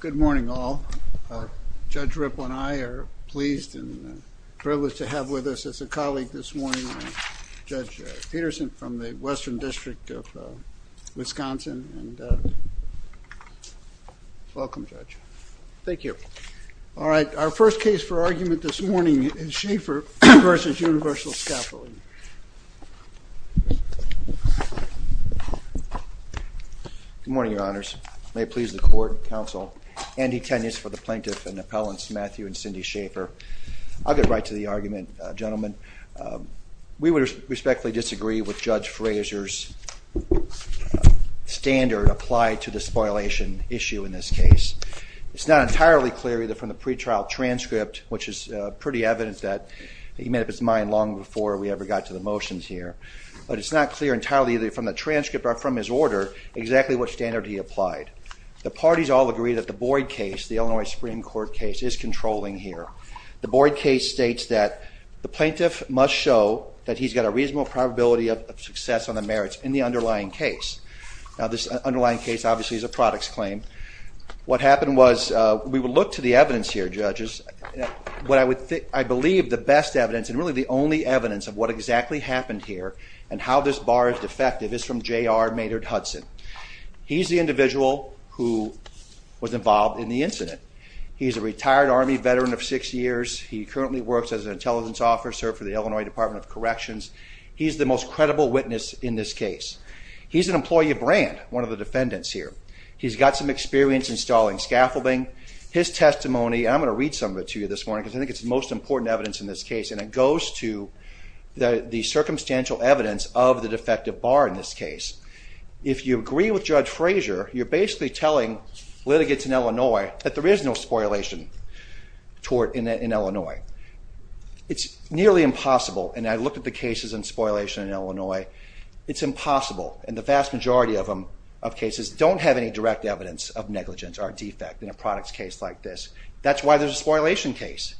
Good morning all. Judge Ripple and I are pleased and privileged to have with us as a colleague this morning Judge Peterson from the Western District of Wisconsin and welcome Judge. Thank you. All right our first case for argument this morning is Schaefer v. Universal Scaffolding & Equipment. Good morning Your Honor. I'm pleased to introduce the court counsel and detainees for the plaintiff and appellants Matthew and Cindy Schaefer. I'll get right to the argument gentlemen. We would respectfully disagree with Judge Frazier's standard applied to the spoilation issue in this case. It's not entirely clear either from the pretrial transcript which is pretty evidence that he made up his mind long before we ever got to the motions here but it's not clear entirely either from the transcript from his order exactly what standard he applied. The parties all agree that the Boyd case the Illinois Supreme Court case is controlling here. The Boyd case states that the plaintiff must show that he's got a reasonable probability of success on the merits in the underlying case. Now this underlying case obviously is a products claim. What happened was we would look to the evidence here judges what I would think I believe the best evidence and really the only evidence of what exactly happened here and how this bar is defective is from J.R. Maynard Hudson. He's the individual who was involved in the incident. He's a retired Army veteran of six years. He currently works as an intelligence officer for the Illinois Department of Corrections. He's the most credible witness in this case. He's an employee of brand one of the defendants here. He's got some experience installing scaffolding. His testimony I'm going to read some of it to you this morning because I think it's the most important evidence in this case and it the circumstantial evidence of the defective bar in this case. If you agree with Judge Frazier you're basically telling litigants in Illinois that there is no spoilation tort in Illinois. It's nearly impossible and I look at the cases in spoilation in Illinois it's impossible and the vast majority of them of cases don't have any direct evidence of negligence or defect in a products case like this. That's why there's a spoilation case.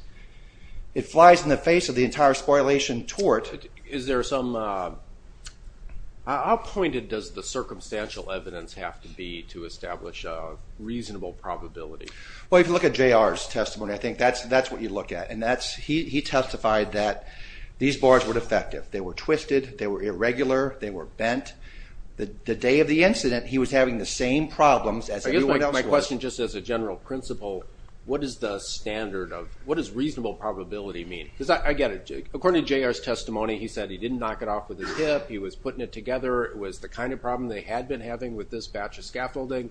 It flies in the face of the entire spoilation tort. Is there some... how pointed does the circumstantial evidence have to be to establish a reasonable probability? Well if you look at J.R.'s testimony I think that's that's what you look at and that's he testified that these bars were defective. They were twisted. They were irregular. They were bent. The day of the incident he was having the same problems as everyone else. My question just as a general principle what is the standard of what is reasonable probability mean? Because I get it. According to J.R.'s testimony he said he didn't knock it off with his hip. He was putting it together. It was the kind of problem they had been having with this batch of scaffolding.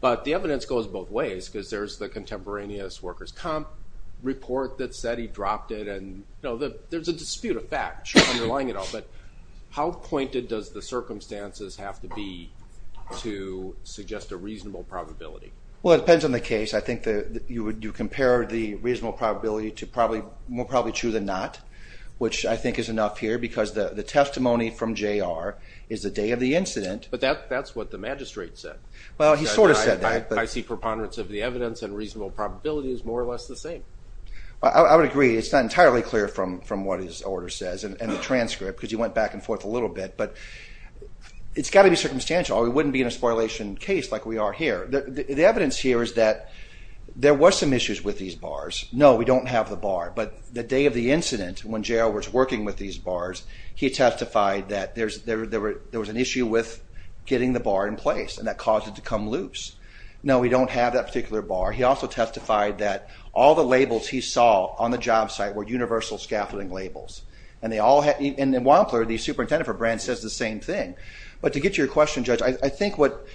But the evidence goes both ways because there's the contemporaneous workers comp report that said he dropped it and you know that there's a dispute of fact underlying it all. But how pointed does the circumstances have to be to suggest a reasonable probability? Well it depends on the case. I think that you would do compare the reasonable probability to probably more probably true than not which I think is enough here because the the testimony from J.R. is the day of the incident. But that's what the magistrate said. Well he sort of said that. I see preponderance of the evidence and reasonable probability is more or less the same. I would agree it's not entirely clear from from what his order says and the transcript because you went back and forth a little bit but it's got to be circumstantial. It wouldn't be in a spoilation case like we are here. The bars. No we don't have the bar but the day of the incident when J.R. was working with these bars he testified that there's there there was an issue with getting the bar in place and that caused it to come loose. No we don't have that particular bar. He also testified that all the labels he saw on the job site were universal scaffolding labels and they all had in Wampler the superintendent for Brandt says the same thing. But to get your question judge I think what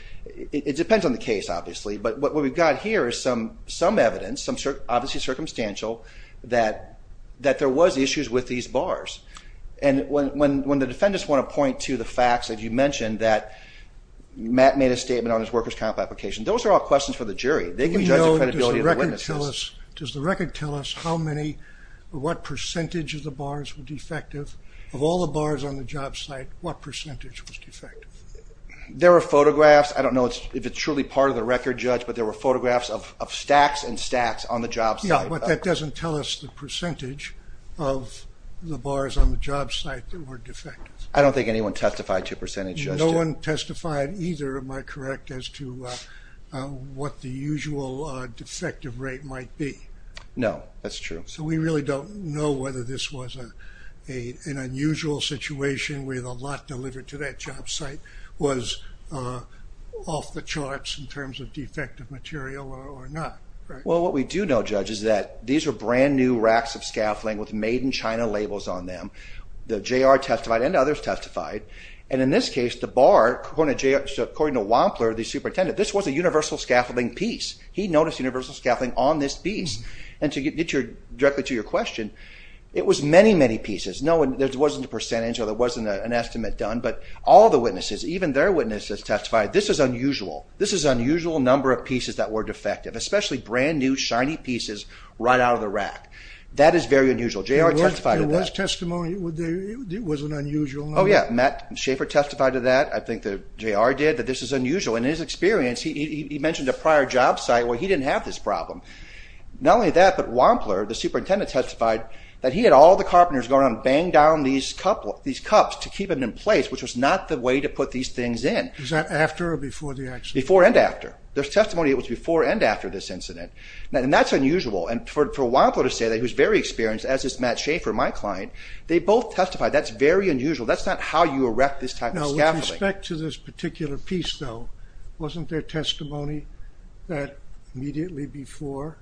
it depends on the case obviously but what we've got here is some evidence, obviously circumstantial, that there was issues with these bars and when the defendants want to point to the facts as you mentioned that Matt made a statement on his workers comp application those are all questions for the jury. They can judge the credibility of the witnesses. Does the record tell us how many what percentage of the bars were defective of all the bars on the job site what percentage was defective? There are photographs I don't know if it's truly part of the record judge but there were photographs of stacks and stacks on the job site. Yeah but that doesn't tell us the percentage of the bars on the job site that were defective. I don't think anyone testified to percentage. No one testified either am I correct as to what the usual defective rate might be? No that's true. So we really don't know whether this was a an unusual situation with a lot delivered to that job site was off the charts in terms of defective material or not. Well what we do know judge is that these are brand new racks of scaffolding with made in China labels on them. The JR testified and others testified and in this case the bar according to Wampler the superintendent this was a universal scaffolding piece. He noticed universal scaffolding on this piece and to get your directly to your question it was many many pieces. No and there wasn't a percentage or there wasn't an estimate done but all the witnesses even their witnesses testified this is unusual. This is unusual number of pieces that were defective especially brand new shiny pieces right out of the rack. That is very unusual. JR testified to that. There was testimony it wasn't unusual. Oh yeah Matt Schaefer testified to that I think the JR did that this is unusual in his experience he mentioned a prior job site where he didn't have this problem. Not only that but Wampler the superintendent testified that he had all the carpenters going on bang down these couple these cups to keep it in place which was not the way to put these things in. Is that after or before the accident? Before and after. There's testimony it was before and after this incident and that's unusual and for Wampler to say that he was very experienced as is Matt Schaefer my client they both testified that's very unusual that's not how you erect this type of scaffolding. Now with respect to this particular piece though wasn't there testimony that immediately before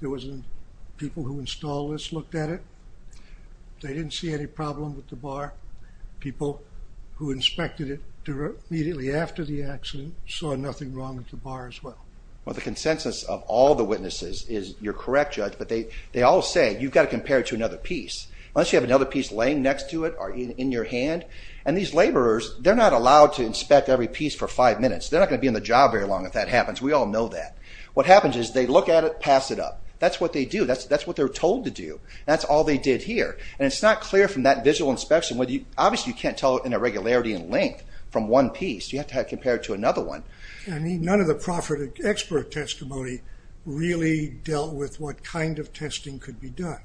there installers looked at it they didn't see any problem with the bar people who inspected it immediately after the accident saw nothing wrong with the bar as well. Well the consensus of all the witnesses is you're correct judge but they they all say you've got to compare it to another piece unless you have another piece laying next to it or in your hand and these laborers they're not allowed to inspect every piece for five minutes they're not going to be in the job very long if that happens we all know that. What happens is they look at it pass it up that's what they do that's that's what they're told to do that's all they did here and it's not clear from that visual inspection whether you obviously you can't tell it in a regularity in length from one piece you have to have compared to another one. I mean none of the profited expert testimony really dealt with what kind of testing could be done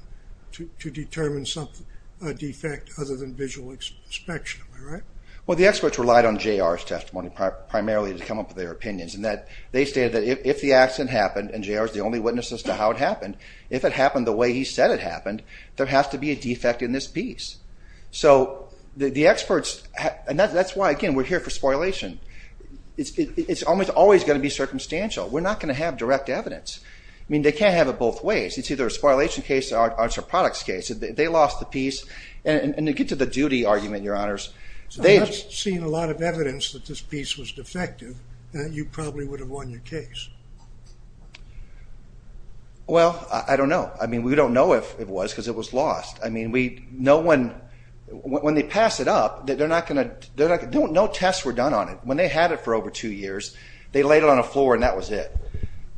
to determine something a defect other than visual inspection right? Well the experts relied on JR's testimony primarily to come up with their opinions and that they stated if the accident happened and JR's the only witnesses to how it happened if it happened the way he said it happened there has to be a defect in this piece. So the experts and that's why again we're here for spoilation it's almost always going to be circumstantial we're not going to have direct evidence I mean they can't have it both ways it's either a spoilation case or it's a products case they lost the piece and to get to the duty argument your honors they've seen a lot of evidence that this piece was defective that you probably would have won your case. Well I don't know I mean we don't know if it was because it was lost I mean we no one when they pass it up that they're not going to they're like don't no tests were done on it when they had it for over two years they laid it on a floor and that was it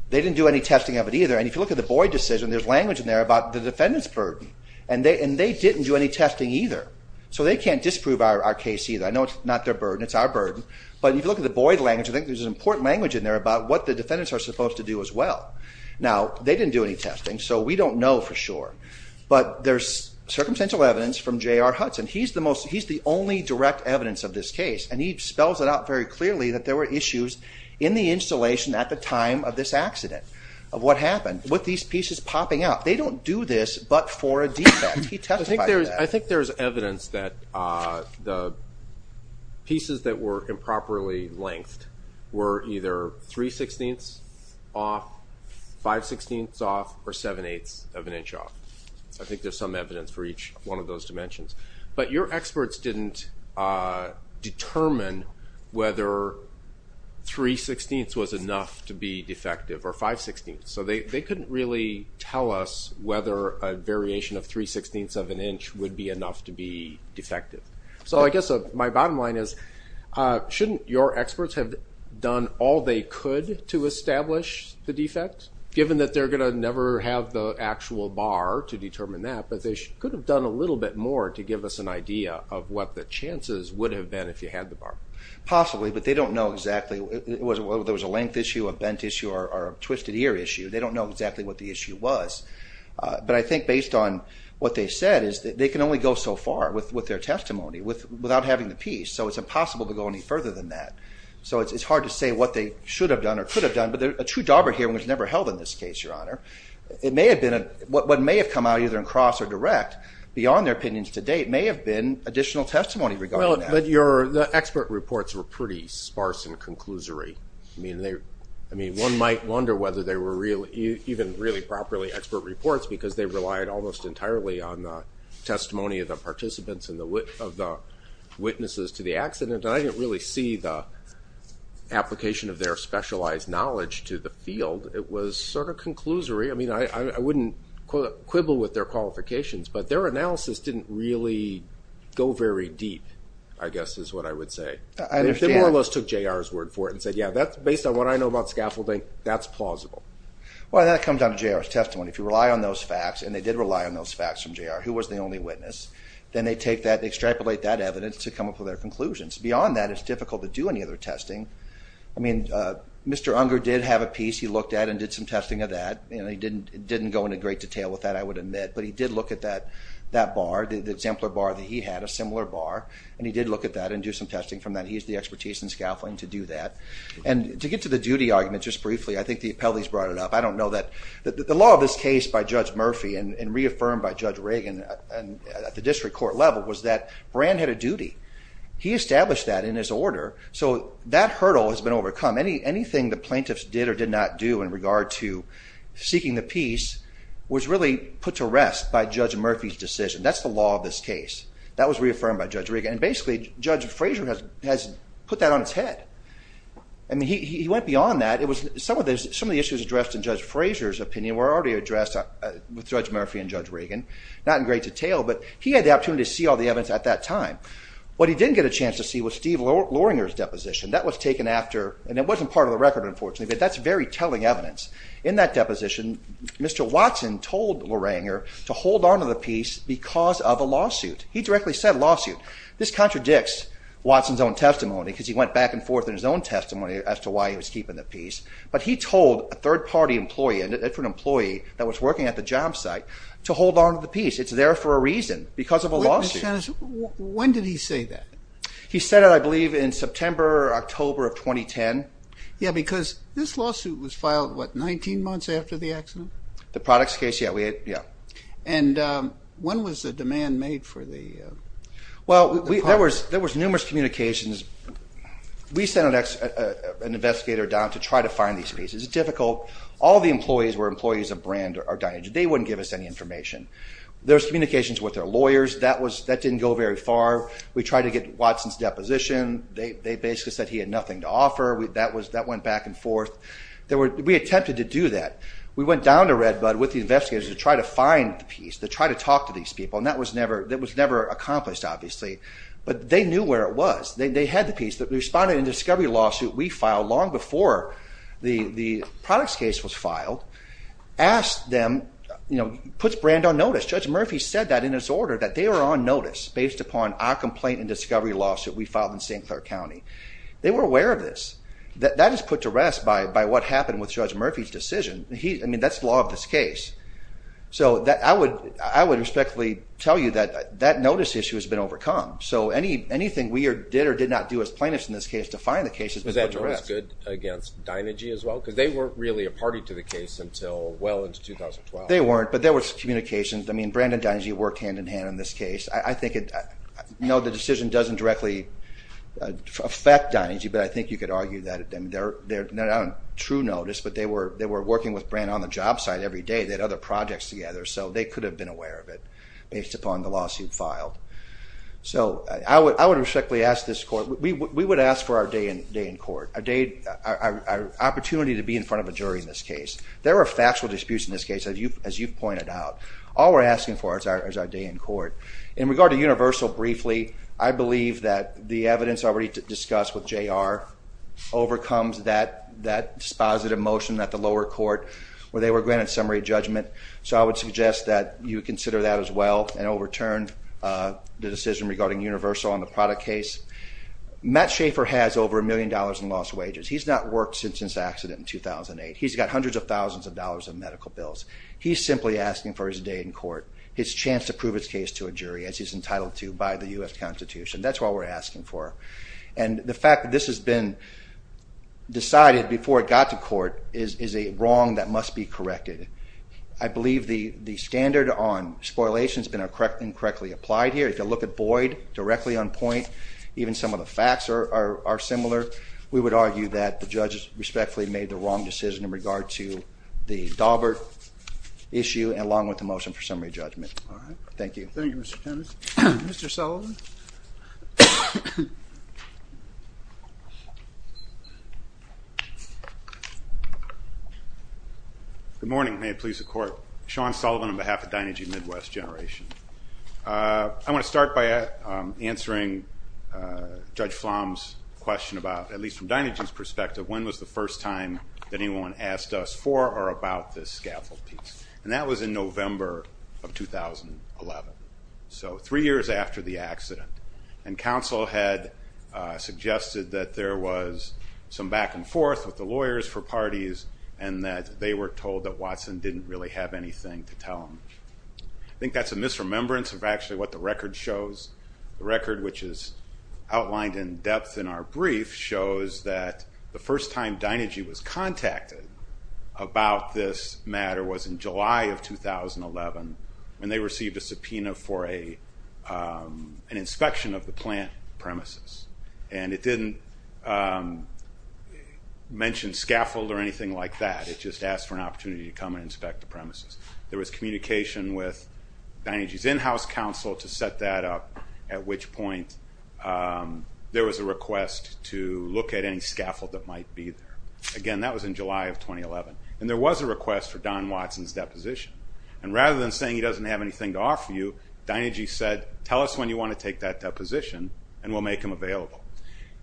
they didn't do any testing of it either and if you look at the Boyd decision there's language in there about the defendants burden and they and they didn't do any testing either so they can't disprove our case either I know it's not their burden it's our burden but if you look at the Boyd language I think there's an important language in there about what the defendants are supposed to do as well now they didn't do any testing so we don't know for sure but there's circumstantial evidence from J.R. Hudson he's the most he's the only direct evidence of this case and he spells it out very clearly that there were issues in the installation at the time of this accident of what happened with these pieces popping up they don't do this but for a defect. I think there's evidence that the pieces that were improperly length were either 3 16ths off 5 16ths off or 7 8ths of an inch off I think there's some evidence for each one of those dimensions but your experts didn't determine whether 3 16ths was enough to be defective or 5 16ths so they couldn't really tell us whether a variation of 3 16ths of an inch would be enough to be defective so I guess my bottom line is shouldn't your experts have done all they could to establish the defect given that they're gonna never have the actual bar to determine that but they should could have done a little bit more to give us an idea of what the chances would have been if you had the bar. Possibly but they don't know exactly it was well there was a length issue a bent issue or a twisted ear issue they don't know exactly what the so far with with their testimony with without having the piece so it's impossible to go any further than that so it's hard to say what they should have done or could have done but they're a true dauber here was never held in this case your honor it may have been a what may have come out either in cross or direct beyond their opinions to date may have been additional testimony regarding that. But your the expert reports were pretty sparse and conclusory I mean they I mean one might wonder whether they were really even really properly expert reports because they relied almost entirely on the participants in the wit of the witnesses to the accident I didn't really see the application of their specialized knowledge to the field it was sort of conclusory I mean I wouldn't quibble with their qualifications but their analysis didn't really go very deep I guess is what I would say I understand all those took JR's word for it and said yeah that's based on what I know about scaffolding that's plausible. Well that comes out of JR's testimony if you rely on those facts and they did rely on those facts from JR who was the only witness then they take that extrapolate that evidence to come up with their conclusions beyond that it's difficult to do any other testing I mean Mr. Unger did have a piece he looked at and did some testing of that you know he didn't didn't go into great detail with that I would admit but he did look at that that bar the exemplar bar that he had a similar bar and he did look at that and do some testing from that he's the expertise in scaffolding to do that and to get to the duty argument just briefly I think the appellees brought it up I don't know that the law of this case by Judge Murphy and reaffirmed by the district court level was that brand had a duty he established that in his order so that hurdle has been overcome any anything the plaintiffs did or did not do in regard to seeking the peace was really put to rest by Judge Murphy's decision that's the law of this case that was reaffirmed by Judge Reagan and basically Judge Frazier has put that on its head I mean he went beyond that it was some of those some of the issues addressed in Judge Frazier's opinion were already addressed with Judge Murphy and Judge Reagan not in great detail but he had the opportunity to see all the evidence at that time what he didn't get a chance to see was Steve Loranger's deposition that was taken after and it wasn't part of the record unfortunately but that's very telling evidence in that deposition mr. Watson told Loranger to hold on to the peace because of a lawsuit he directly said lawsuit this contradicts Watson's own testimony because he went back and forth in his own testimony as to why he was keeping the peace but he told a third-party employee and it's an employee that was working at the job site to hold on to the peace it's there for a reason because of a lawsuit when did he say that he said it I believe in September October of 2010 yeah because this lawsuit was filed what 19 months after the accident the products case yeah we had yeah and when was the demand made for the well there was there was numerous communications we sent an investigator down to try to find these pieces difficult all the employees were employees of brand are dying today wouldn't give us any information there's communications with their lawyers that was that didn't go very far we tried to get Watson's deposition they basically said he had nothing to offer we that was that went back and forth there were we attempted to do that we went down to red bud with the investigators to try to find the piece to try to talk to these people and that was never that was never accomplished obviously but they knew where it was they had the piece that responded in discovery lawsuit we filed long before the the products case was filed asked them you know puts brand on notice judge Murphy said that in his order that they were on notice based upon our complaint and discovery lawsuit we filed in st. Clair County they were aware of this that that is put to rest by by what happened with judge Murphy's decision he I mean that's law of this case so that I would I would respectfully tell you that that notice issue has been overcome so any anything we or did or did not do as plaintiffs in this case to find the cases but that was good against Dynegy as well because they weren't really a party to the case until well into 2012 they weren't but there was communications I mean Brandon Dynegy worked hand-in-hand in this case I think it you know the decision doesn't directly affect Dynegy but I think you could argue that at them there they're not on true notice but they were they were working with brand on the job site every day that other projects together so they could have been aware of it based upon the lawsuit filed so I would I would respectfully ask this court we would ask for our day in day in court a day our opportunity to be in front of a jury in this case there are factual disputes in this case as you as you've pointed out all we're asking for it's our day in court in regard to universal briefly I believe that the evidence already discussed with JR overcomes that that dispositive motion that the lower court where they were granted summary judgment so I would suggest that you consider that as well and overturn the decision regarding universal on the product case Matt Schaefer has over a million dollars in lost wages he's not worked since his accident in 2008 he's got hundreds of thousands of dollars in medical bills he's simply asking for his day in court his chance to prove its case to a jury as he's entitled to by the US Constitution that's what we're asking for and the fact that this has been decided before it got to court is a wrong that must be corrected I believe the the standard on spoilation has been a correct incorrectly applied here if you look at Boyd directly on point even some of the facts are similar we would argue that the judges respectfully made the wrong decision in regard to the Daubert issue and along with the motion for summary judgment all right thank you mr. Sullivan good morning may it please the court Sean Sullivan on behalf of Dinegy Midwest generation I want to start by answering judge flom's question about at least from Dinegy's perspective when was the first time that anyone asked us for or about this scaffold piece and that was in November of 2011 so three years after the accident and counsel had suggested that there was some back-and-forth with the lawyers for parties and that they were told that Watson didn't really have anything to tell him I think that's a misremembrance of actually what the record shows the record which is outlined in depth in our brief shows that the first time Dinegy was contacted about this matter was in July of 2011 when they received a subpoena for a an inspection of the plant premises and it didn't mention scaffold or anything like that it just asked for an opportunity to come and inspect the premises there was communication with Dinegy's in-house counsel to set that up at which point there was a request to look at any scaffold that might be there again that was in July of 2011 and there was a request for Don Watson's deposition and rather than saying he doesn't have anything to offer you Dinegy said tell us when you want to take that deposition and we'll make him available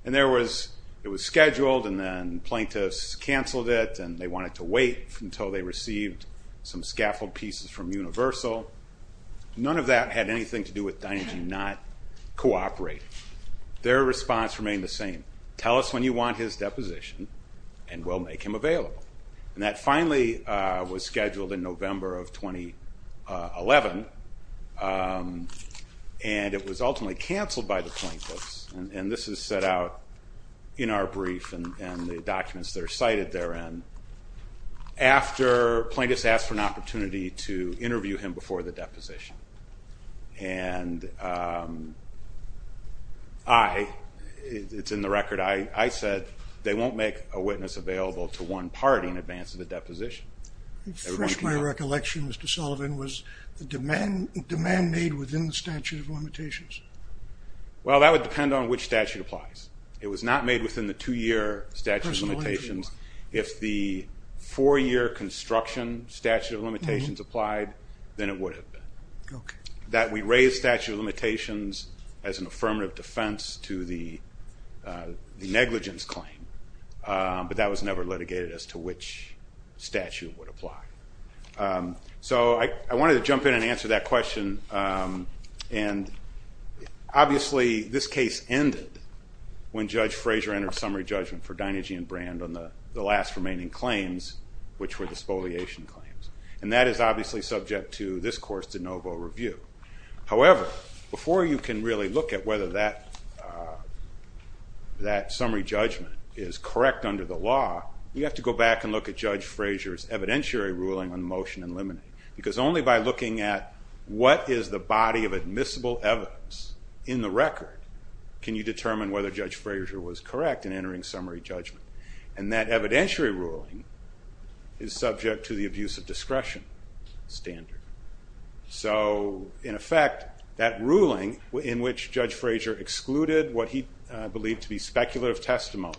and there was it was scheduled and then plaintiffs canceled it and they wanted to wait until they received some scaffold pieces from Universal none of that had anything to do with Dinegy not cooperating their response remained the same tell us when you want his deposition and we'll make him available and that finally was scheduled in November of 2011 and it was ultimately canceled by the plaintiffs and this is set out in our brief and the documents that are cited therein after plaintiffs asked for an opportunity to interview him before the deposition and I it's in the record I I said they won't make a witness available to one party in advance of the deposition. First my recollection Mr. Sullivan was demand demand made within the statute of limitations. Well that would depend on which statute applies it was not made within the two-year statute of limitations if the four-year construction statute of limitations applied then it would have been. That we raised statute of limitations as an affirmative defense to the negligence claim but that was never litigated as to which statute would apply. So I wanted to jump in and answer that question and obviously this case ended when Judge Frazier entered summary judgment for Dinegy and Brand on the the last remaining claims which were the subject to this course de novo review. However before you can really look at whether that that summary judgment is correct under the law you have to go back and look at Judge Frazier's evidentiary ruling on motion and limiting because only by looking at what is the body of admissible evidence in the record can you determine whether Judge Frazier was correct in entering summary judgment and that evidentiary ruling is subject to the abuse of standard. So in effect that ruling in which Judge Frazier excluded what he believed to be speculative testimony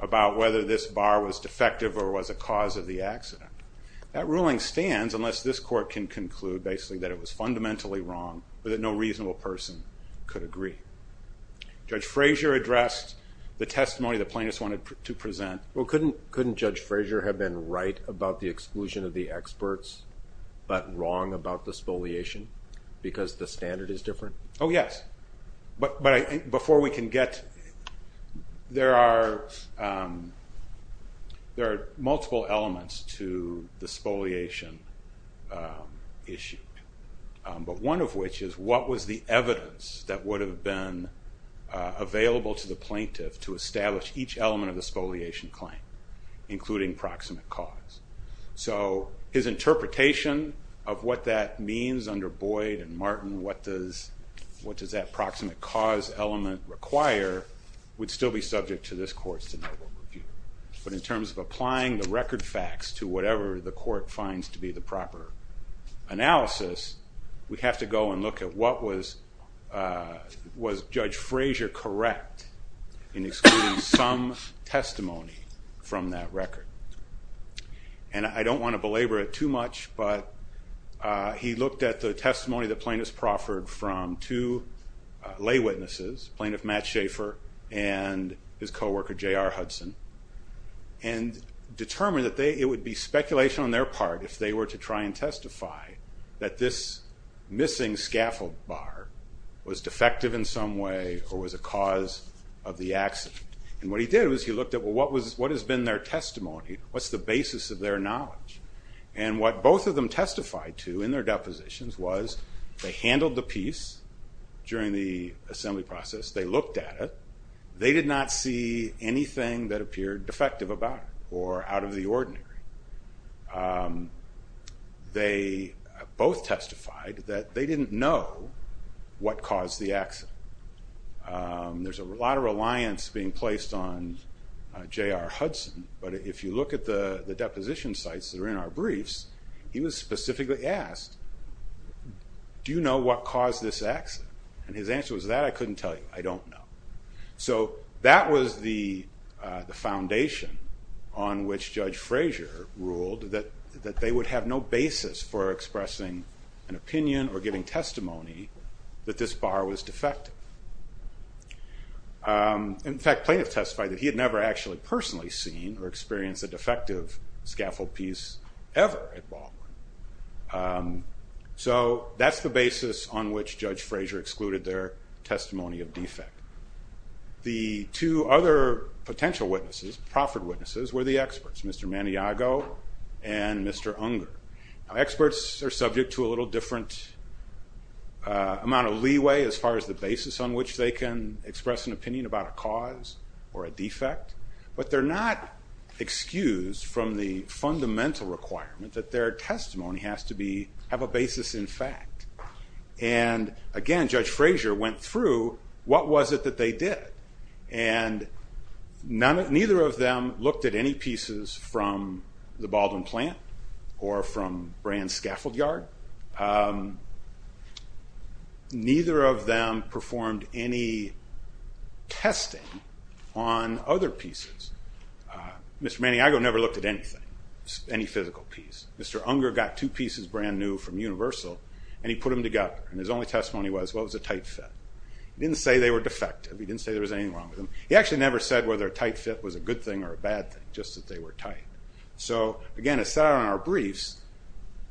about whether this bar was defective or was a cause of the accident. That ruling stands unless this court can conclude basically that it was fundamentally wrong or that no reasonable person could agree. Judge Frazier addressed the testimony the plaintiffs wanted to present. Well couldn't couldn't Judge Frazier have been right about the experts but wrong about the spoliation because the standard is different? Oh yes but but before we can get there are there are multiple elements to the spoliation issue but one of which is what was the evidence that would have been available to the plaintiff to establish each element of the spoliation claim including proximate cause. So his interpretation of what that means under Boyd and Martin what does what does that proximate cause element require would still be subject to this court's denial. But in terms of applying the record facts to whatever the court finds to be the proper analysis we have to go and look at was Judge Frazier correct in excluding some testimony from that record. And I don't want to belabor it too much but he looked at the testimony the plaintiffs proffered from two lay witnesses plaintiff Matt Schaefer and his co-worker J.R. Hudson and determined that they it would be speculation on their part if they were to try and testify that this missing scaffold bar was defective in some way or was a cause of the accident. And what he did was he looked at what was what has been their testimony what's the basis of their knowledge and what both of them testified to in their depositions was they handled the piece during the assembly process they looked at it they did not see anything that they both testified that they didn't know what caused the accident. There's a lot of reliance being placed on J.R. Hudson but if you look at the the deposition sites that are in our briefs he was specifically asked do you know what caused this accident and his answer was that I couldn't tell you I don't know. So that was the the foundation on which Judge Frazier ruled that that they would have no basis for expressing an opinion or giving testimony that this bar was defective. In fact plaintiff testified that he had never actually personally seen or experienced a defective scaffold piece ever at Baldwin. So that's the basis on which Judge Frazier excluded their testimony of defect. The two other potential witnesses, proffered witnesses, were the experts Mr. Maniago and Mr. Unger. Experts are subject to a little different amount of leeway as far as the basis on which they can express an opinion about a cause or a defect but they're not excused from the fundamental requirement that their testimony has to be have a basis in fact. And again Judge Frazier went through what was it that they did and neither of them looked at any pieces from the Baldwin plant or from Brands scaffold yard. Neither of them performed any testing on other pieces. Mr. Maniago never looked at anything, any physical piece. Mr. Unger got two pieces brand-new from Universal and he put them together and his only testimony was well it was a tight fit. He didn't say they were defective, he didn't say there was anything wrong with them. He actually never said whether a tight fit was a good thing or a bad thing, just that they were tight. So again it's that on our briefs,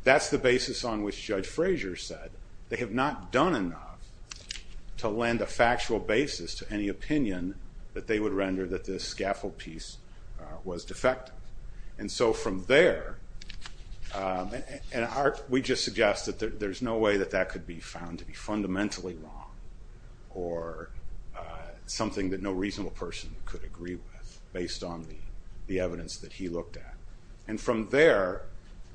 that's the basis on which Judge Frazier said they have not done enough to lend a factual basis to any opinion that they would render that this scaffold piece was defective. And so from there, and we just suggest that there's no way that that could be found to be fundamentally wrong or something that no reasonable person could agree with based on the evidence that he looked at, and from there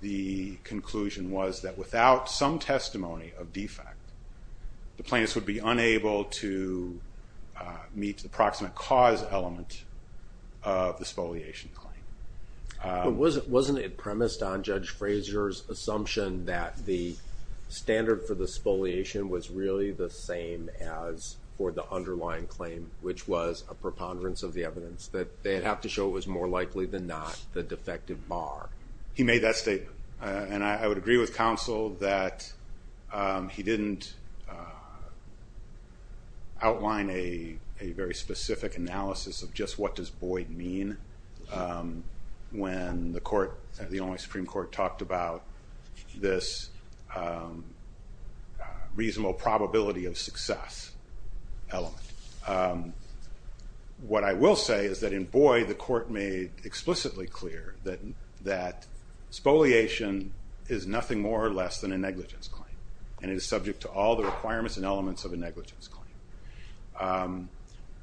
the conclusion was that without some testimony of defect the plaintiffs would be unable to meet the proximate cause element of the spoliation claim. Wasn't it premised on Judge Frazier's assumption that the standard for the spoliation was really the same as for the underlying claim, which was a preponderance of the evidence, that they'd have to show it was more likely than not the defective bar? He made that statement and I would agree with counsel that he didn't outline a very specific analysis of just what does Boyd mean when the court, the Illinois Supreme Court, talked about this reasonable probability of success element. What I will say is that in Boyd, the court made explicitly clear that that spoliation is nothing more or less than a negligence claim, and it is subject to all the requirements and elements of a negligence claim.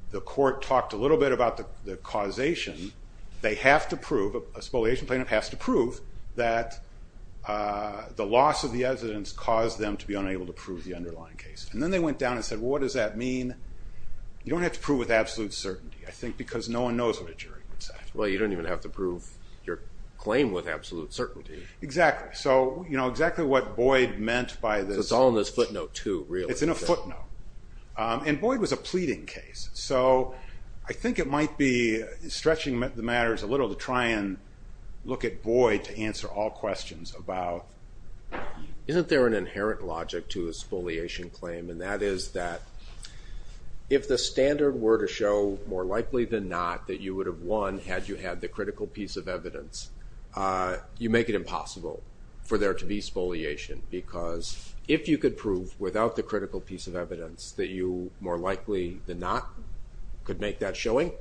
The court talked a little bit about the causation. They have to prove, a spoliation plaintiff has to prove, that the loss of the evidence caused them to be unable to prove the underlying case. And then they went down and said, what does that mean? You don't have to prove with absolute certainty, I think, because no one knows what a jury would say. Well, you don't even have to prove your claim with absolute certainty. Exactly. So, you know, exactly what Boyd meant by this. It's all in this footnote too, really. It's in a footnote. And Boyd was a pleading case, so I think it might be stretching the matters a little bit. I'm going to try and look at Boyd to answer all questions about, isn't there an inherent logic to a spoliation claim? And that is that if the standard were to show more likely than not that you would have won had you had the critical piece of evidence, you make it impossible for there to be spoliation. Because if you could prove without the critical piece of evidence that you more likely than not could make that showing,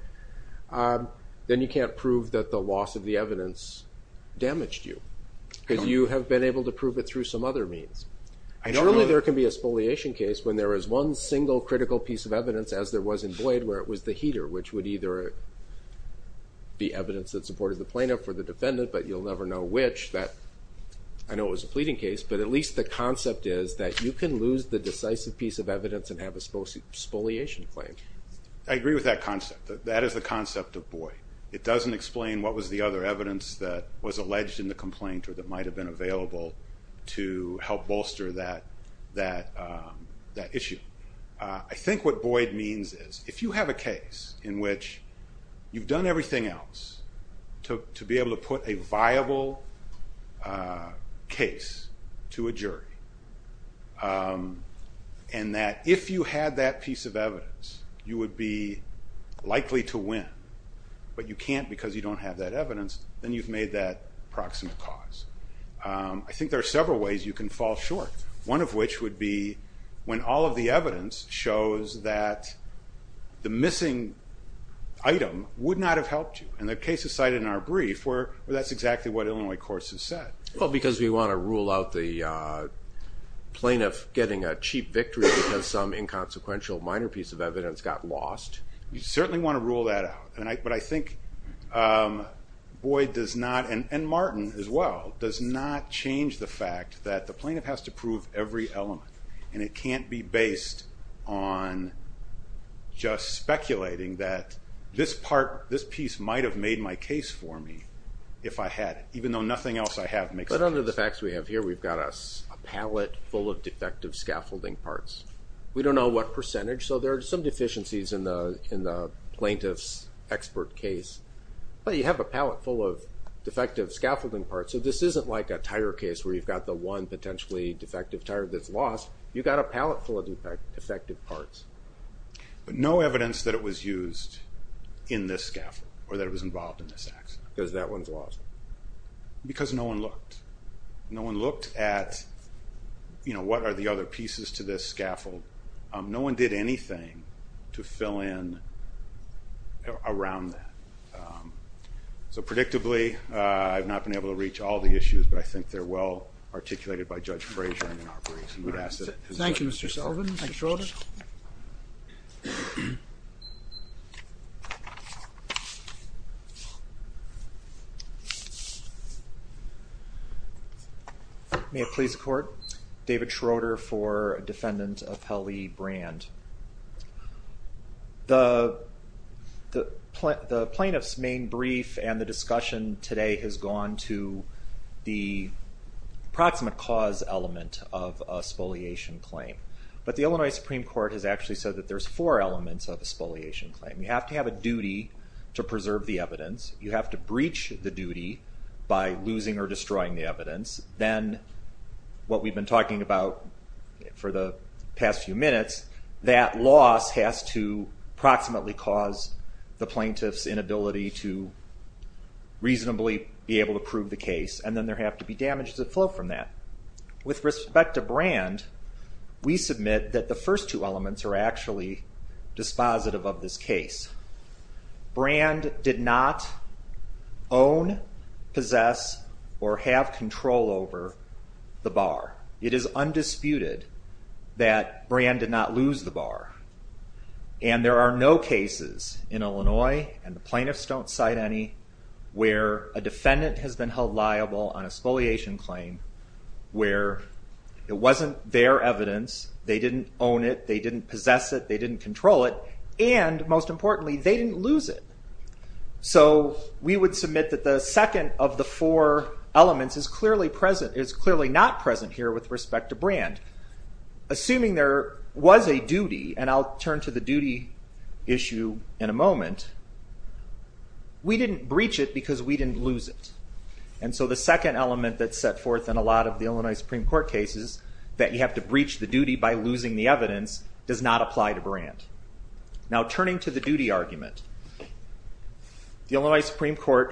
then you can't prove that the loss of the evidence damaged you. Because you have been able to prove it through some other means. Normally, there can be a spoliation case when there is one single critical piece of evidence, as there was in Boyd, where it was the heater, which would either be evidence that supported the plaintiff or the defendant, but you'll never know which. I know it was a pleading case, but at least the concept is that you can lose the decisive piece of evidence and have a spoliation claim. I agree with that concept. That is the concept of Boyd. It doesn't explain what was the other evidence that was alleged in the complaint or that might have been available to help bolster that issue. I think what Boyd means is, if you have a case in which you've done everything else to be able to put a viable case to a jury, and that if you had that piece of evidence, you would be likely to win, but you can't because you don't have that evidence, then you've made that proximate cause. I think there are several ways you can fall short, one of which would be when all of the evidence shows that the missing item would not have helped you. And the case is cited in our brief, where that's exactly what Illinois Courts has said. Well, because we wanna rule out the inconsequential minor piece of evidence got lost. You certainly want to rule that out, but I think Boyd does not, and Martin as well, does not change the fact that the plaintiff has to prove every element, and it can't be based on just speculating that this piece might have made my case for me if I had it, even though nothing else I have makes sense. But under the facts we have here, we've got a pallet full of defective scaffolding parts. We don't know what percentage, so there are some deficiencies in the plaintiff's expert case, but you have a pallet full of defective scaffolding parts, so this isn't like a tire case where you've got the one potentially defective tire that's lost. You've got a pallet full of defective parts. But no evidence that it was used in this scaffold, or that it was involved in this accident. Because that one's lost. Because no one looked. No one looked at, you know, what are the other pieces to this scaffold. No one did anything to fill in around that. So predictably, I've not been able to reach all the issues, but I think they're well articulated by Judge Frazier in the operation. Thank you, Mr. Sullivan. Mr. Schroeder. May it please the Court, David Schroeder for defendant of Hellie Brand. The plaintiff's main brief and the discussion today has gone to the proximate cause element of a spoliation claim. But the Illinois Supreme Court has actually said that there's four elements of a spoliation claim. You have to have a duty by losing or destroying the evidence. Then what we've been talking about for the past few minutes, that loss has to proximately cause the plaintiff's inability to reasonably be able to prove the case. And then there have to be damages that flow from that. With respect to Brand, we submit that the possess or have control over the bar. It is undisputed that Brand did not lose the bar. And there are no cases in Illinois, and the plaintiffs don't cite any, where a defendant has been held liable on a spoliation claim where it wasn't their evidence, they didn't own it, they didn't possess it, they didn't control it, and most importantly they didn't lose it. So we would submit that the second of the four elements is clearly present, is clearly not present here with respect to Brand. Assuming there was a duty, and I'll turn to the duty issue in a moment, we didn't breach it because we didn't lose it. And so the second element that's set forth in a lot of the Illinois Supreme Court cases, that you have to breach the duty by losing the evidence, does not apply to Brand. Now Brand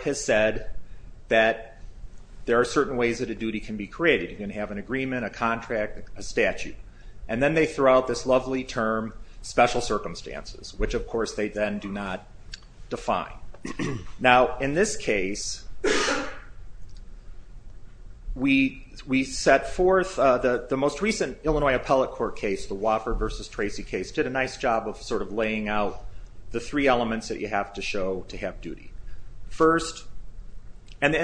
has said that there are certain ways that a duty can be created. You can have an agreement, a contract, a statute, and then they throw out this lovely term, special circumstances, which of course they then do not define. Now in this case, we set forth the most recent Illinois Appellate Court case, the Woffer versus Tracy case, did a nice job of sort of laying out the three elements that you have to show to have duty. First, and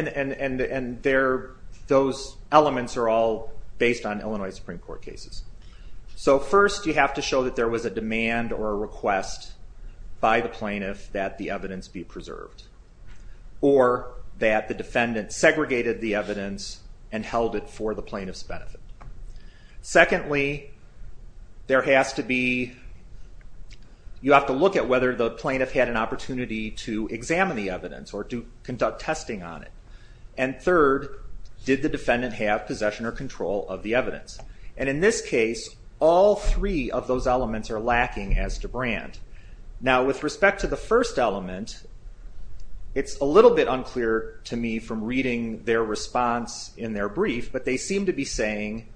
those elements are all based on Illinois Supreme Court cases. So first you have to show that there was a demand or a request by the plaintiff that the evidence be preserved, or that the defendant segregated the evidence and held it for the plaintiff's benefit. Secondly, there has to be, you have to look at whether the plaintiff had an opportunity to examine the evidence or to conduct testing on it. And third, did the defendant have possession or control of the evidence? And in this case, all three of those elements are lacking as to Brand. Now with respect to the first element, it's a little bit unclear to me from reading their response in their brief, but they seem to be saying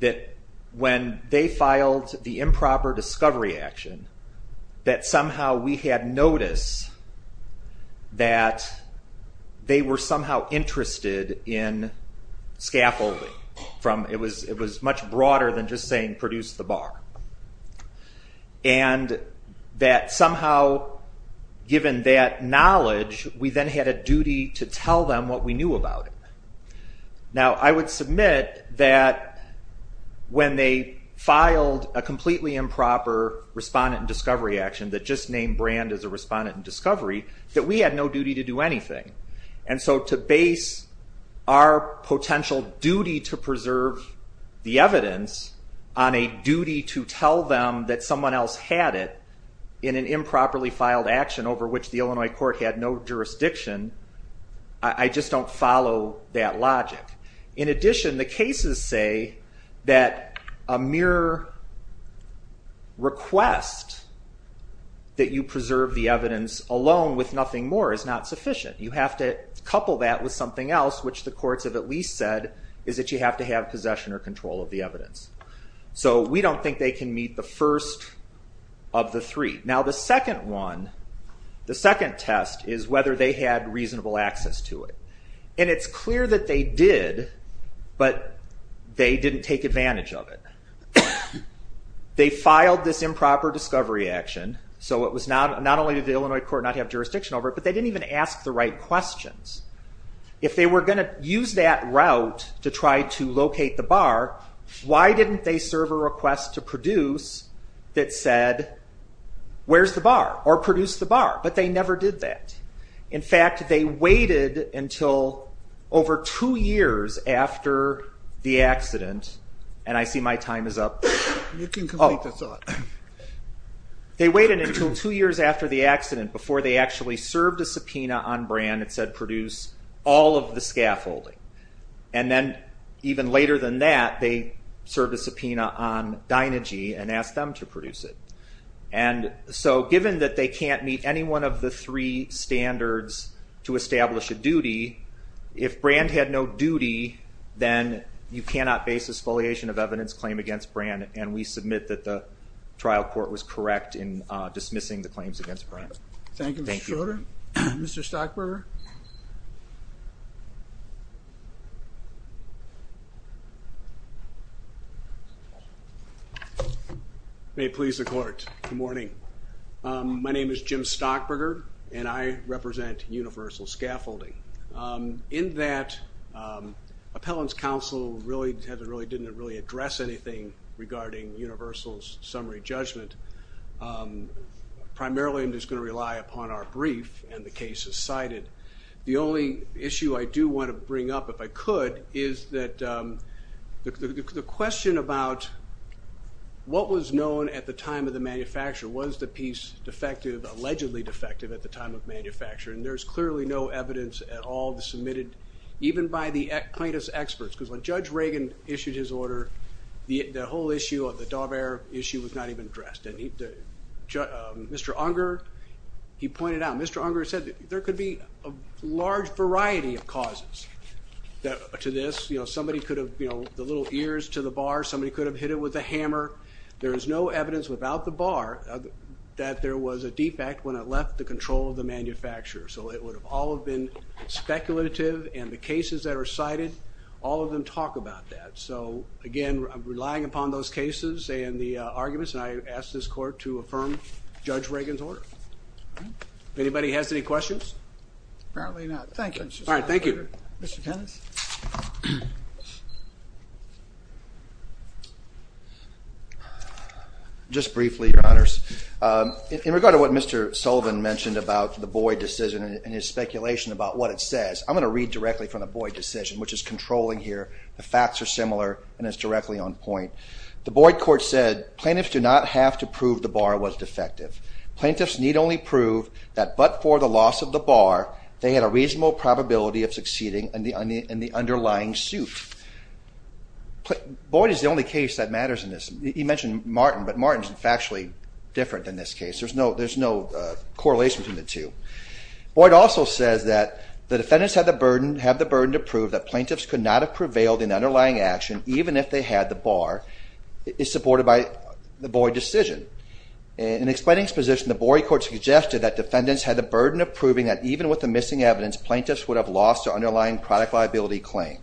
that when they filed the improper discovery action, that somehow we had noticed that they were somehow interested in scaffolding from, it was much broader than just saying produce the bar. And that somehow, given that knowledge, we then had a duty to tell them what we knew about it. Now I would submit that when they filed a completely improper respondent and discovery action that just named Brand as a respondent and discovery, that we had no duty to do anything. And so to base our potential duty to preserve the evidence on a duty to tell them that someone else had it in an improperly filed action over which the Illinois court had no jurisdiction, I just don't follow that logic. In addition, the cases say that a mere request that you preserve the evidence alone with nothing more is not sufficient. You have to couple that with something else which the courts have at least said is that you have to have possession or control of the evidence. So we don't think they can meet the first of the three. Now the second one, the second test, is whether they had reasonable access to it. And it's clear that they did, but they didn't take advantage of it. They filed this improper discovery action, so not only did the Illinois court not have jurisdiction over it, but they didn't even ask the right questions. If they were going to use that route to try to locate the bar, why didn't they serve a request to produce that said where's the bar or produce the bar? But they never did that. In fact, they waited until over two years after the accident, and I see my time is up. They waited until two years after the accident before they actually served a subpoena on Brand and said produce all of the scaffolding. And then even later than that, they served a subpoena on Dynegy and asked them to meet the three standards to establish a duty. If Brand had no duty, then you cannot base exfoliation of evidence claim against Brand, and we submit that the trial court was correct in dismissing the claims against Brand. Thank you, Mr. Schroeder. Mr. Stockburger? May it please the court. Good morning. My name is Jim Stockburger, and I represent Universal Scaffolding. In that, Appellant's Counsel really didn't really address anything regarding Universal's summary judgment. Primarily, I'm just going to rely upon our brief and the cases cited. The only issue I do want to bring up, if I could, is that the question about what was known at the time of the manufacture, was the piece defective, allegedly defective at the time of manufacture, and there's clearly no evidence at all submitted, even by the plaintiff's experts, because when Judge Reagan issued his order, the whole issue of the Daubert issue was not even addressed. Mr. Unger, he pointed out, Mr. Unger said there could be a large variety of causes to this, you know, somebody could have, you know, the little ears to the bar, somebody could have hit it with a hammer. There is no evidence without the bar that there was a defect when it left the control of the manufacturer, so it would have all have been speculative, and the cases that are cited, all of them talk about that. So again, I'm relying upon those cases and the arguments, and I ask this Court to affirm Judge Reagan's order. If anybody has any questions? Apparently not. Thank you. All right, thank you. Mr. Penance? Just briefly, Your Honors, in regard to what Mr. Sullivan mentioned about the Boyd decision and his speculation about what it says, I'm going to read directly from the Boyd decision, which is controlling here. The facts are similar and it's directly on point. The Boyd court said, plaintiffs do not have to prove the bar was defective. Plaintiffs need only prove that but for the loss of the bar, they had a reasonable probability of succeeding in the underlying suit. Boyd is the only case that matters in this. He mentioned Martin, but Martin is factually different in this case. There's no correlation between the two. Boyd also says that the defendants have the burden to prove that plaintiffs could not have prevailed in underlying action, even if they had the bar, is supported by the Boyd decision. In explaining his position, the Boyd court suggested that defendants had the burden of proving that even with the missing evidence, plaintiffs would have lost their underlying product liability claim.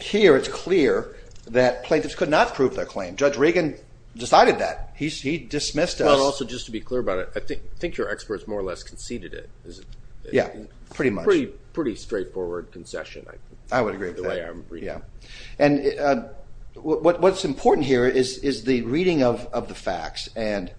Here, it's clear that plaintiffs could not prove their claim. Judge Reagan decided that. He dismissed us. Also, just to be clear about it, I think your experts more or less conceded it. Yeah, pretty much. Pretty straightforward concession. I would agree with that. And what's important here is the reading of the facts and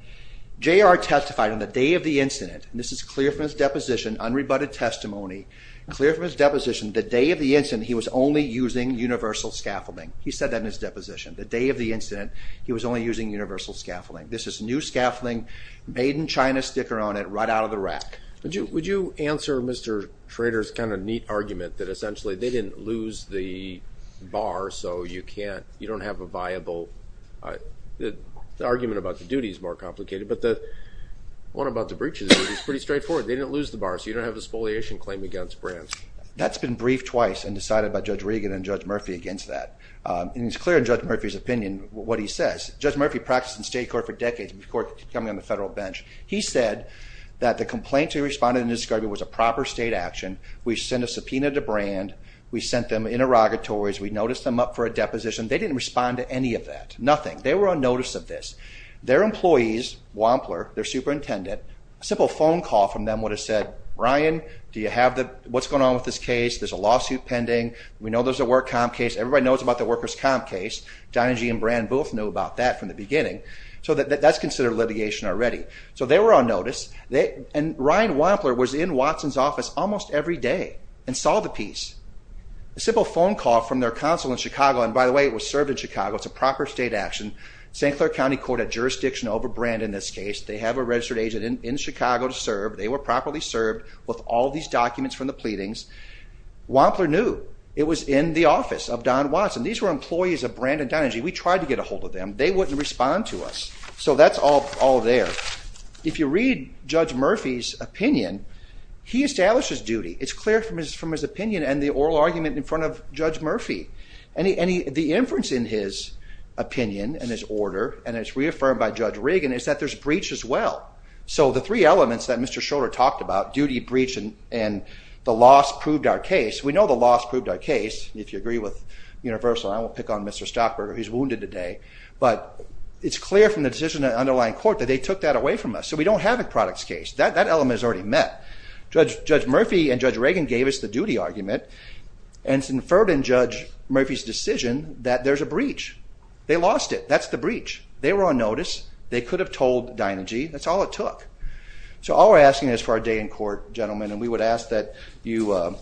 J.R. testified on the day of the incident, and this is clear from his deposition, unrebutted testimony, clear from his deposition, the day of the incident, he was only using universal scaffolding. He said that in his deposition. The day of the incident, he was only using universal scaffolding. This is new scaffolding, made in China, sticker on it, right out of the rack. Would you answer Mr. Trader's kind of neat argument that essentially they didn't lose the bar, so you can't, you don't have a viable, the argument about the duty is more complicated, but the one about the breaches is pretty straightforward. They didn't lose the bar, so you don't have a spoliation claim against brands. That's been briefed twice and decided by Judge Reagan and Judge Murphy against that, and it's clear in Judge Murphy's opinion what he says. Judge Murphy practiced in state court for a long time. He said that the complaint he responded to in this case was a proper state action. We sent a subpoena to brand. We sent them interrogatories. We noticed them up for a deposition. They didn't respond to any of that, nothing. They were unnoticed of this. Their employees, Wampler, their superintendent, a simple phone call from them would have said, Brian, do you have the, what's going on with this case? There's a lawsuit pending. We know there's a work comp case. Everybody knows about the workers comp case. Dinergy and brand both knew about that from the beginning, so that's considered litigation already. So they were unnoticed, and Ryan Wampler was in Watson's office almost every day and saw the piece. A simple phone call from their counsel in Chicago, and by the way it was served in Chicago. It's a proper state action. St. Clair County Court had jurisdiction over brand in this case. They have a registered agent in Chicago to serve. They were properly served with all these documents from the pleadings. Wampler knew it was in the office of Don Watson. These were employees of brand and Dinergy. We tried to get a hold of them. They wouldn't respond to us. So that's all there. If you read Judge Murphy's opinion, he establishes duty. It's clear from his opinion and the oral argument in front of Judge Murphy. The inference in his opinion and his order, and it's reaffirmed by Judge Reagan, is that there's breach as well. So the three elements that Mr. Schroeder talked about, duty, breach, and the loss, proved our case. We know the loss proved our case. If you agree with Universal, I won't pick on Mr. Stockburger. He's wounded today, but it's clear from the decision in the underlying court that they took that away from us. So we don't have a products case. That element is already met. Judge Murphy and Judge Reagan gave us the duty argument and it's inferred in Judge Murphy's decision that there's a breach. They lost it. That's the breach. They were on notice. They could have told Dinergy. That's all it took. So all we're for our day in court, gentlemen, and we would ask that you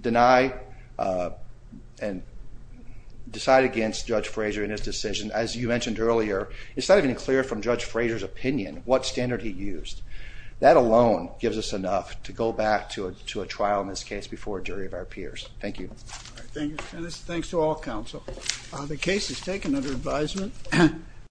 deny and decide against Judge Frazier in his decision. As you mentioned earlier, it's not even clear from Judge Frazier's opinion what standard he used. That alone gives us enough to go back to a trial in this case before a jury of our peers. Thank you. Thanks to all counsel. The case is taken under advisement.